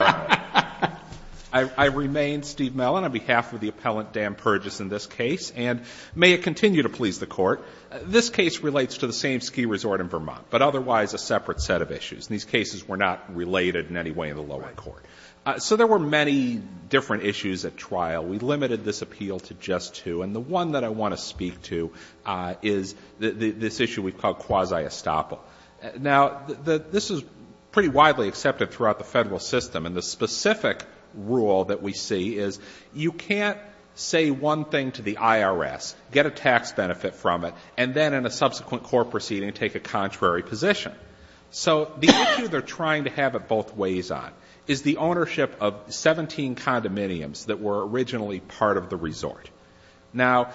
I remain Steve Mellon on behalf of the appellant Dan Purjes in this case, and may it continue to please the court. This case relates to the same ski resort in Vermont, but otherwise a separate set of issues. These cases were not related in any way in the lower court. So there were many different issues at trial. We limited this appeal to just two, and the one that I want to speak to is this issue we call quasi-estoppel. Now, this is pretty widely accepted throughout the federal system, and the specific rule that we see is you can't say one thing to the IRS, get a tax benefit from it, and then in a subsequent court proceeding take a contrary position. So the issue they're trying to have it both ways on is the ownership of 17 condominiums that were originally part of the resort. Now,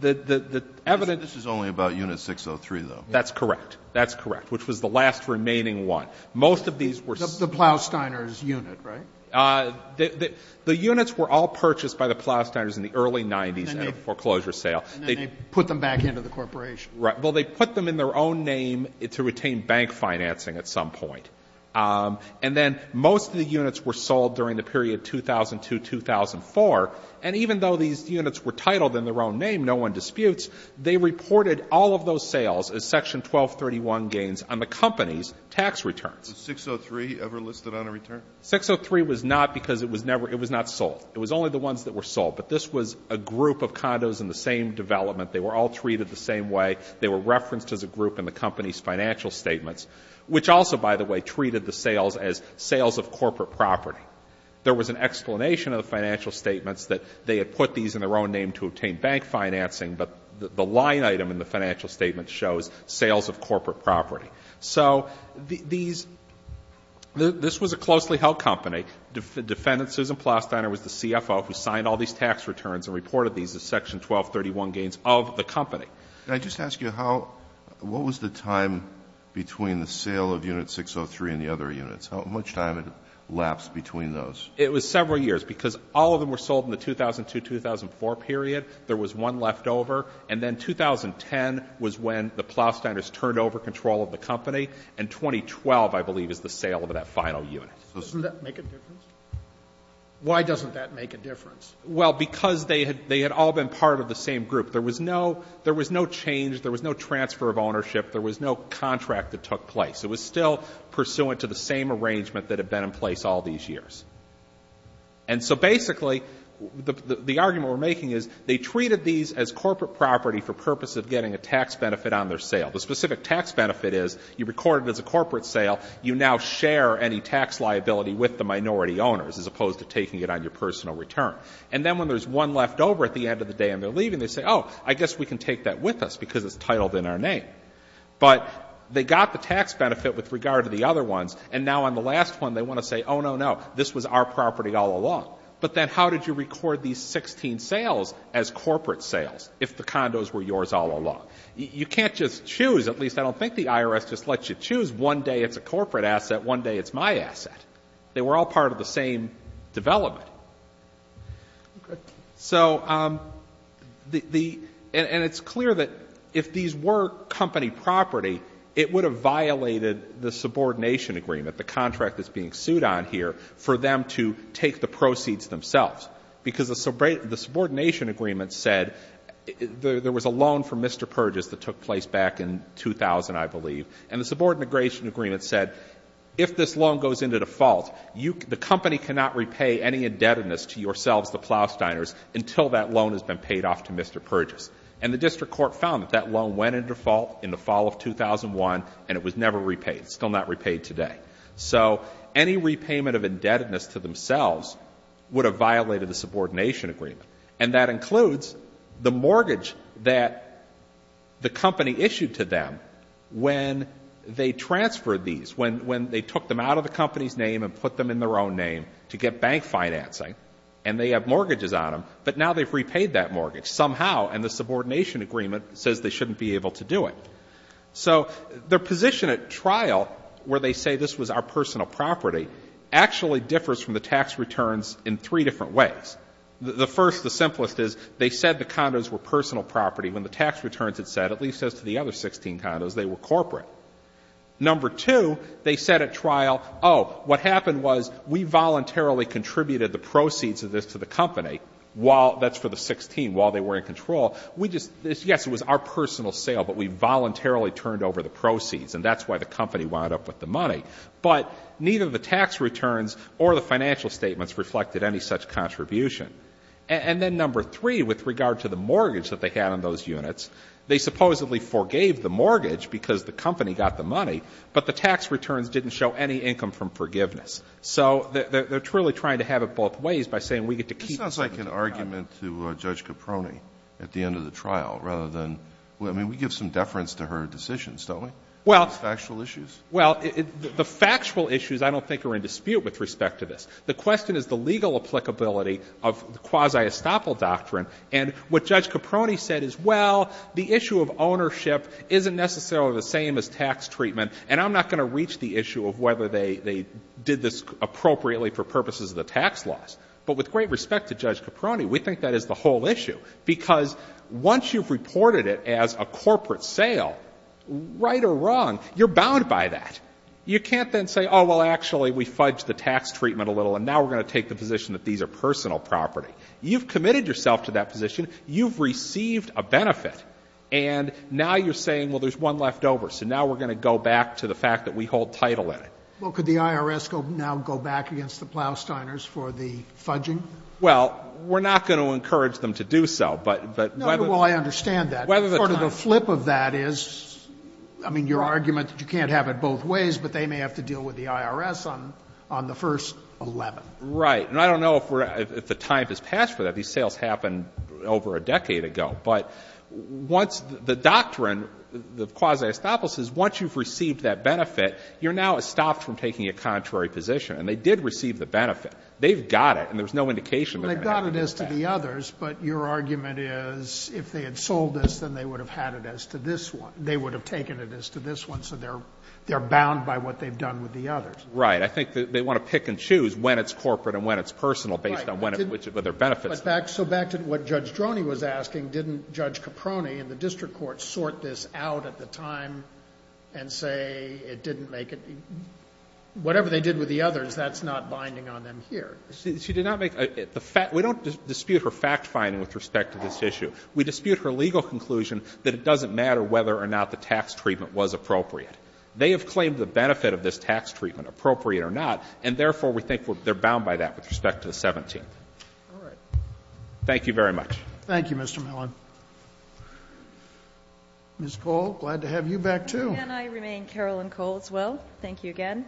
the evidence This is only about Unit 603, though. That's correct. That's correct, which was the last remaining one. Most of these were The Plausteiner's unit, right? The units were all purchased by the Plausteiners in the early 90s at a foreclosure sale. And then they put them back into the corporation. Right. Well, they put them in their own name to retain bank financing at some point. And then most of the units were sold during the period 2002-2004. And even though these units were titled in their own name, no one disputes, they reported all of those sales as Section 1231 gains on the company's tax returns. Was 603 ever listed on a return? 603 was not because it was never — it was not sold. It was only the ones that were sold. But this was a group of condos in the same development. They were all treated the same way. They were referenced as a group in the company's financial statements, which also, by the way, treated the sales as sales of corporate property. There was an explanation of the financial statements that they had put these in their own name to obtain bank financing, but the line item in the financial statement shows sales of corporate property. So these — this was a closely held company. Defendant Susan Plostiner was the CFO who signed all these tax returns and reported these as Section 1231 gains of the company. Can I just ask you how — what was the time between the sale of Unit 603 and the other units? How much time lapsed between those? It was several years because all of them were sold in the 2002-2004 period. There was one unit left over, and then 2010 was when the Plostiners turned over control of the company, and 2012, I believe, is the sale of that final unit. So doesn't that make a difference? Why doesn't that make a difference? Well, because they had — they had all been part of the same group. There was no — there was no change. There was no transfer of ownership. There was no contract that took place. It was still pursuant to the same arrangement that had been in place all these years. And so basically, the argument we're making is they treated these as corporate property for purpose of getting a tax benefit on their sale. The specific tax benefit is you record it as a corporate sale. You now share any tax liability with the minority owners, as opposed to taking it on your personal return. And then when there's one left over at the end of the day and they're leaving, they say, oh, I guess we can take that with us because it's titled in our name. But they got the tax benefit with regard to the other ones, and now on the last one, they want to say, oh, no, no, this was our property all along. But then how did you record these 16 sales as corporate sales if the condos were yours all along? You can't just choose. At least, I don't think the IRS just lets you choose. One day it's a corporate asset. One day it's my asset. They were all part of the same development. So the — and it's clear that if these were company property, it would have violated the subordination agreement, the contract that's being sued on here, for them to take the proceeds themselves. Because the subordination agreement said — there was a loan from Mr. Purgis that took place back in 2000, I believe. And the subordination agreement said, if this loan goes into default, the company cannot repay any indebtedness to yourselves, the Plowsteiners, until that loan has been paid off to Mr. Purgis. And the district court found that that loan went into default in the fall of 2001, and it was never repaid. It's still not repaid today. So any repayment of indebtedness to themselves would have violated the subordination agreement. And that includes the mortgage that the company issued to them when they transferred these, when they took them out of the company's name and put them in their own name to get bank financing. And they have mortgages on them. But now they've repaid that mortgage somehow, and the subordination agreement says they shouldn't be able to do it. So their position at trial, where they say this was our personal property, actually differs from the tax returns in three different ways. The first, the simplest, is they said the condos were personal property when the tax returns had said, at least as to the other 16 condos, they were corporate. Number two, they said at trial, oh, what happened was we voluntarily contributed the proceeds of this to the company while — that's for the 16 — while they were in control. We just — yes, it was our personal sale, but we voluntarily turned over the proceeds, and that's why the company wound up with the money. But neither the tax returns or the financial statements reflected any such contribution. And then number three, with regard to the mortgage that they had on those units, they supposedly forgave the mortgage because the company got the money, but the tax returns didn't show any income from forgiveness. So they're truly trying to have it both ways by saying we get to keep — But this sounds like an argument to Judge Caproni at the end of the trial, rather than — I mean, we give some deference to her decisions, don't we, these factual issues? Well, the factual issues I don't think are in dispute with respect to this. The question is the legal applicability of the quasi-estoppel doctrine. And what Judge Caproni said is, well, the issue of ownership isn't necessarily the same as tax treatment, and I'm not going to reach the issue of whether they did this appropriately for purposes of the tax laws. But with great respect to Judge Caproni, we think that is the whole issue. Because once you've reported it as a corporate sale, right or wrong, you're bound by that. You can't then say, oh, well, actually, we fudged the tax treatment a little, and now we're going to take the position that these are personal property. You've committed yourself to that position. You've received a benefit. And now you're saying, well, there's one left over, so now we're going to go back to the fact that we hold title in it. Well, could the IRS now go back against the Plow-Steiners for the fudging? Well, we're not going to encourage them to do so, but whether the tax law or the tax law. No, well, I understand that. Part of the flip of that is, I mean, your argument that you can't have it both ways, but they may have to deal with the IRS on the first 11. Right. And I don't know if the time has passed for that. These sales happened over a decade ago. But once the doctrine, the quasi-estoppel, says once you've stopped from taking a contrary position, and they did receive the benefit, they've got it, and there's no indication that they're going to have to go back. Well, they've got it as to the others, but your argument is if they had sold this, then they would have had it as to this one. They would have taken it as to this one, so they're bound by what they've done with the others. Right. I think they want to pick and choose when it's corporate and when it's personal based on when it's, which of their benefits. Right. But back, so back to what Judge Droney was asking, didn't Judge Caproni in the district court sort this out at the time and say it didn't make it, you know, whatever they did with the others, that's not binding on them here? She did not make the fact we don't dispute her fact-finding with respect to this issue. We dispute her legal conclusion that it doesn't matter whether or not the tax treatment was appropriate. They have claimed the benefit of this tax treatment, appropriate or not, and therefore we think they're bound by that with respect to the 17th. All right. Thank you very much. Ms. Cole, glad to have you back, too. Can I remain Carolyn Cole as well? Thank you again.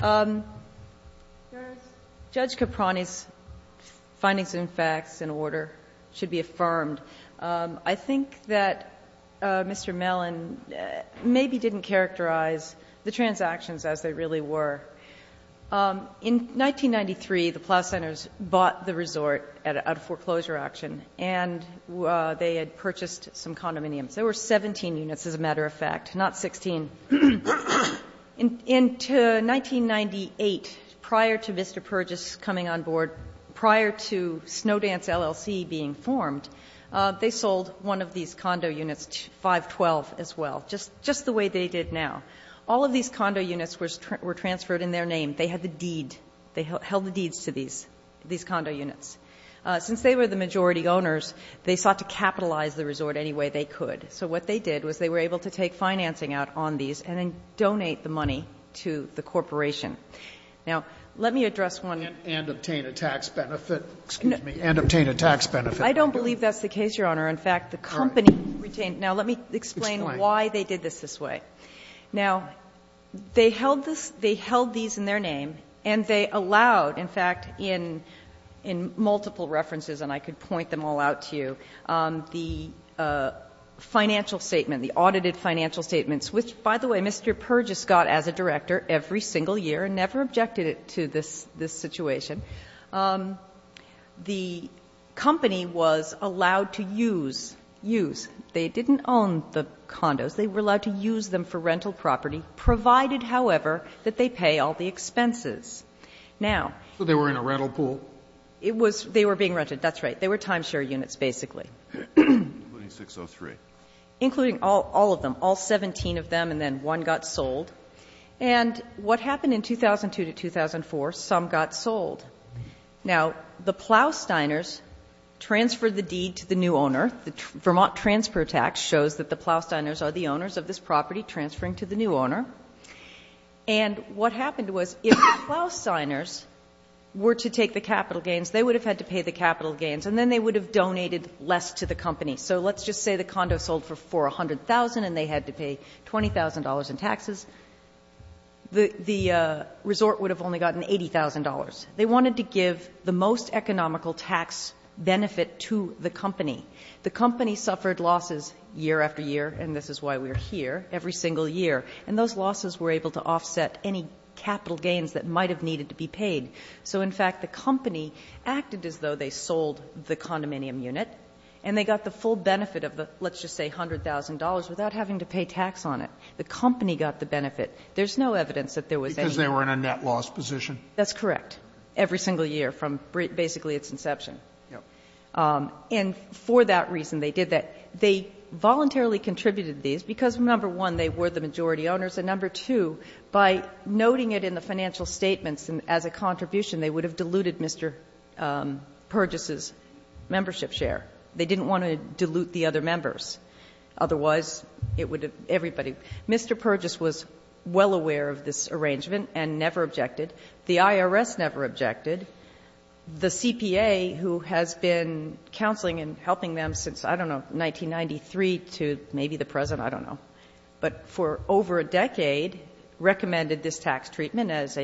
Judge Caproni's findings and facts in order should be affirmed. I think that Mr. Mellon maybe didn't characterize the transactions as they really were. In 1993, the Plough Centers bought the resort at a foreclosure action, and they had purchased some condominiums. There were 17 units, as a matter of fact, not 16. In 1998, prior to Mr. Purgis coming on board, prior to Snowdance LLC being formed, they sold one of these condo units, 512, as well, just the way they did now. All of these condo units were transferred in their name. They had the deed. They held the deeds to these condo units. Since they were the majority owners, they sought to capitalize the resort any way they could. So what they did was they were able to take financing out on these and then donate the money to the corporation. Now, let me address one of the issues. Scalia, and obtain a tax benefit, excuse me, and obtain a tax benefit. I don't believe that's the case, Your Honor. In fact, the company retained. Now, let me explain why they did this this way. Now, they held this they held these in their name, and they allowed, in fact, in multiple references, and I could point them all out to you, the financial statement, the audited financial statements, which, by the way, Mr. Purgis got as a director every single year and never objected to this situation. The company was allowed to use, use. They didn't own the condos. They were allowed to use them for rental property, provided, however, that they pay all the expenses. Now they were in a rental pool. It was they were being rented, that's right. They were timeshare units, basically. Including all of them, all 17 of them, and then one got sold. And what happened in 2002 to 2004, some got sold. Now, the Plow-Steiners transferred the deed to the new owner. The Vermont transfer tax shows that the Plow-Steiners are the owners of this property transferring to the new owner. And what happened was, if the Plow-Steiners were to take the capital gains, they would have had to pay the capital gains, and then they would have donated less to the company. So let's just say the condo sold for $400,000 and they had to pay $20,000 in taxes. The resort would have only gotten $80,000. They wanted to give the most economical tax benefit to the company. The company suffered losses year after year, and this is why we are here, every single year, and those losses were able to offset any capital gains that might have needed to be paid. So, in fact, the company acted as though they sold the condominium unit, and they got the full benefit of the, let's just say, $100,000 without having to pay tax on it. The company got the benefit. There's no evidence that there was any. Sotomayor Because they were in a net loss position. That's correct. Every single year from basically its inception. And for that reason, they did that. They voluntarily contributed these because, number one, they were the majority owners, and number two, by noting it in the financial statements as a contribution, they would have diluted Mr. Purgis's membership share. They didn't want to dilute the other members. Otherwise, it would have, everybody, Mr. Purgis was well aware of this arrangement and never objected. The IRS never objected. The CPA, who has been counseling and helping them since, I don't know, 1993 to maybe the present, I don't know, but for over a decade, recommended this tax treatment as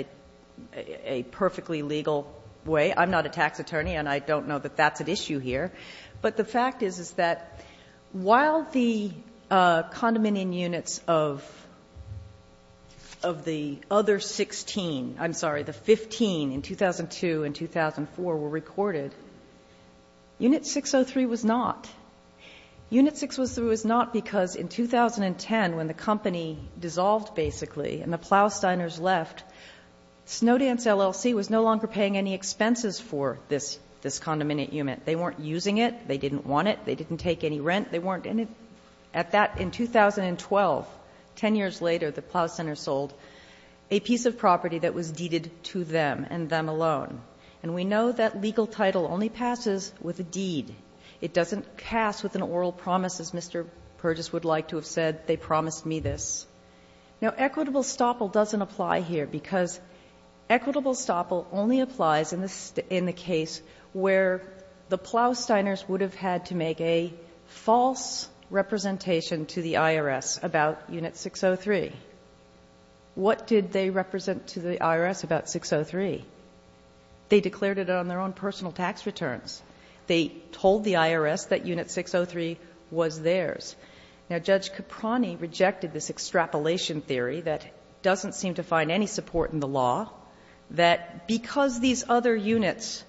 a perfectly legal way. I'm not a tax attorney, and I don't know that that's at issue here. But the fact is, is that while the condominium units of the other 16, I'm sorry, the 15 in 2002 and 2004 were recorded, Unit 603 was not. Unit 603 was not because in 2010, when the company dissolved basically and the Plowsteiners left, Snowdance LLC was no longer paying any expenses for this condominium unit. They weren't using it. They didn't want it. They didn't take any rent. They weren't in it. At that, in 2012, 10 years later, the Plowsteiners sold a piece of property that was deeded to them and them alone. And we know that legal title only passes with a deed. It doesn't pass with an oral promise, as Mr. Purgis would like to have said, they promised me this. Now, equitable stopple doesn't apply here, because equitable stopple only applies in the case where the Plowsteiners would have had to make a false representation to the IRS about Unit 603. What did they represent to the IRS about 603? They declared it on their own personal tax returns. They told the IRS that Unit 603 was theirs. Now, Judge Caproni rejected this extrapolation theory that doesn't seem to find any support in the law, that because these other units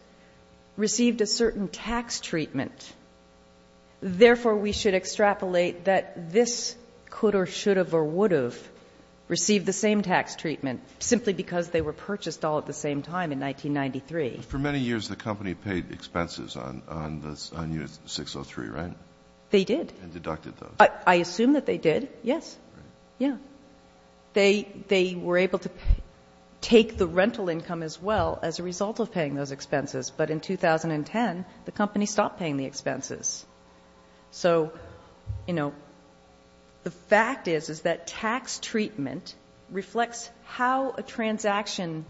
received a certain tax treatment, therefore, we should extrapolate that this could or should have or would have received the same tax treatment simply because they were purchased all at the same time in 1993. But for many years, the company paid expenses on Unit 603, right? They did. And deducted those. I assume that they did, yes. Right. Yeah. They were able to take the rental income as well as a result of paying those expenses. But in 2010, the company stopped paying the expenses. So, you know, the fact is, is that tax treatment reflects how a transaction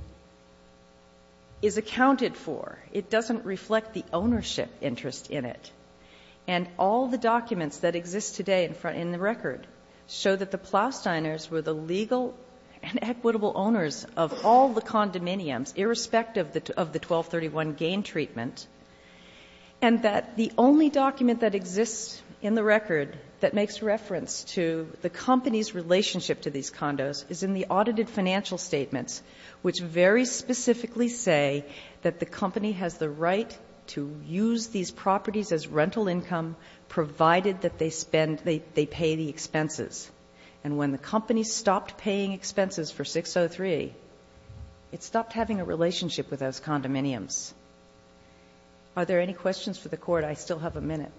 is accounted for. It doesn't reflect the ownership interest in it. And all the documents that exist today in the record show that the Plowsteiners were the legal and equitable owners of all the condominiums, irrespective of the 1231 gain treatment, and that the only document that exists in the record that makes reference to the company's relationship to these condos is in the audited financial statements, which very specifically say that the company has the right to use these properties as rental income, provided that they pay the expenses. And when the company stopped paying expenses for 603, it stopped having a relationship with those condominiums. Are there any questions for the Court? I still have a minute.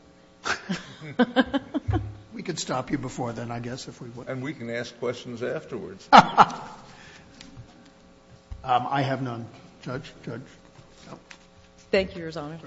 We could stop you before then, I guess, if we would. And we can ask questions afterwards. I have none. Judge? Thank you, Your Honor.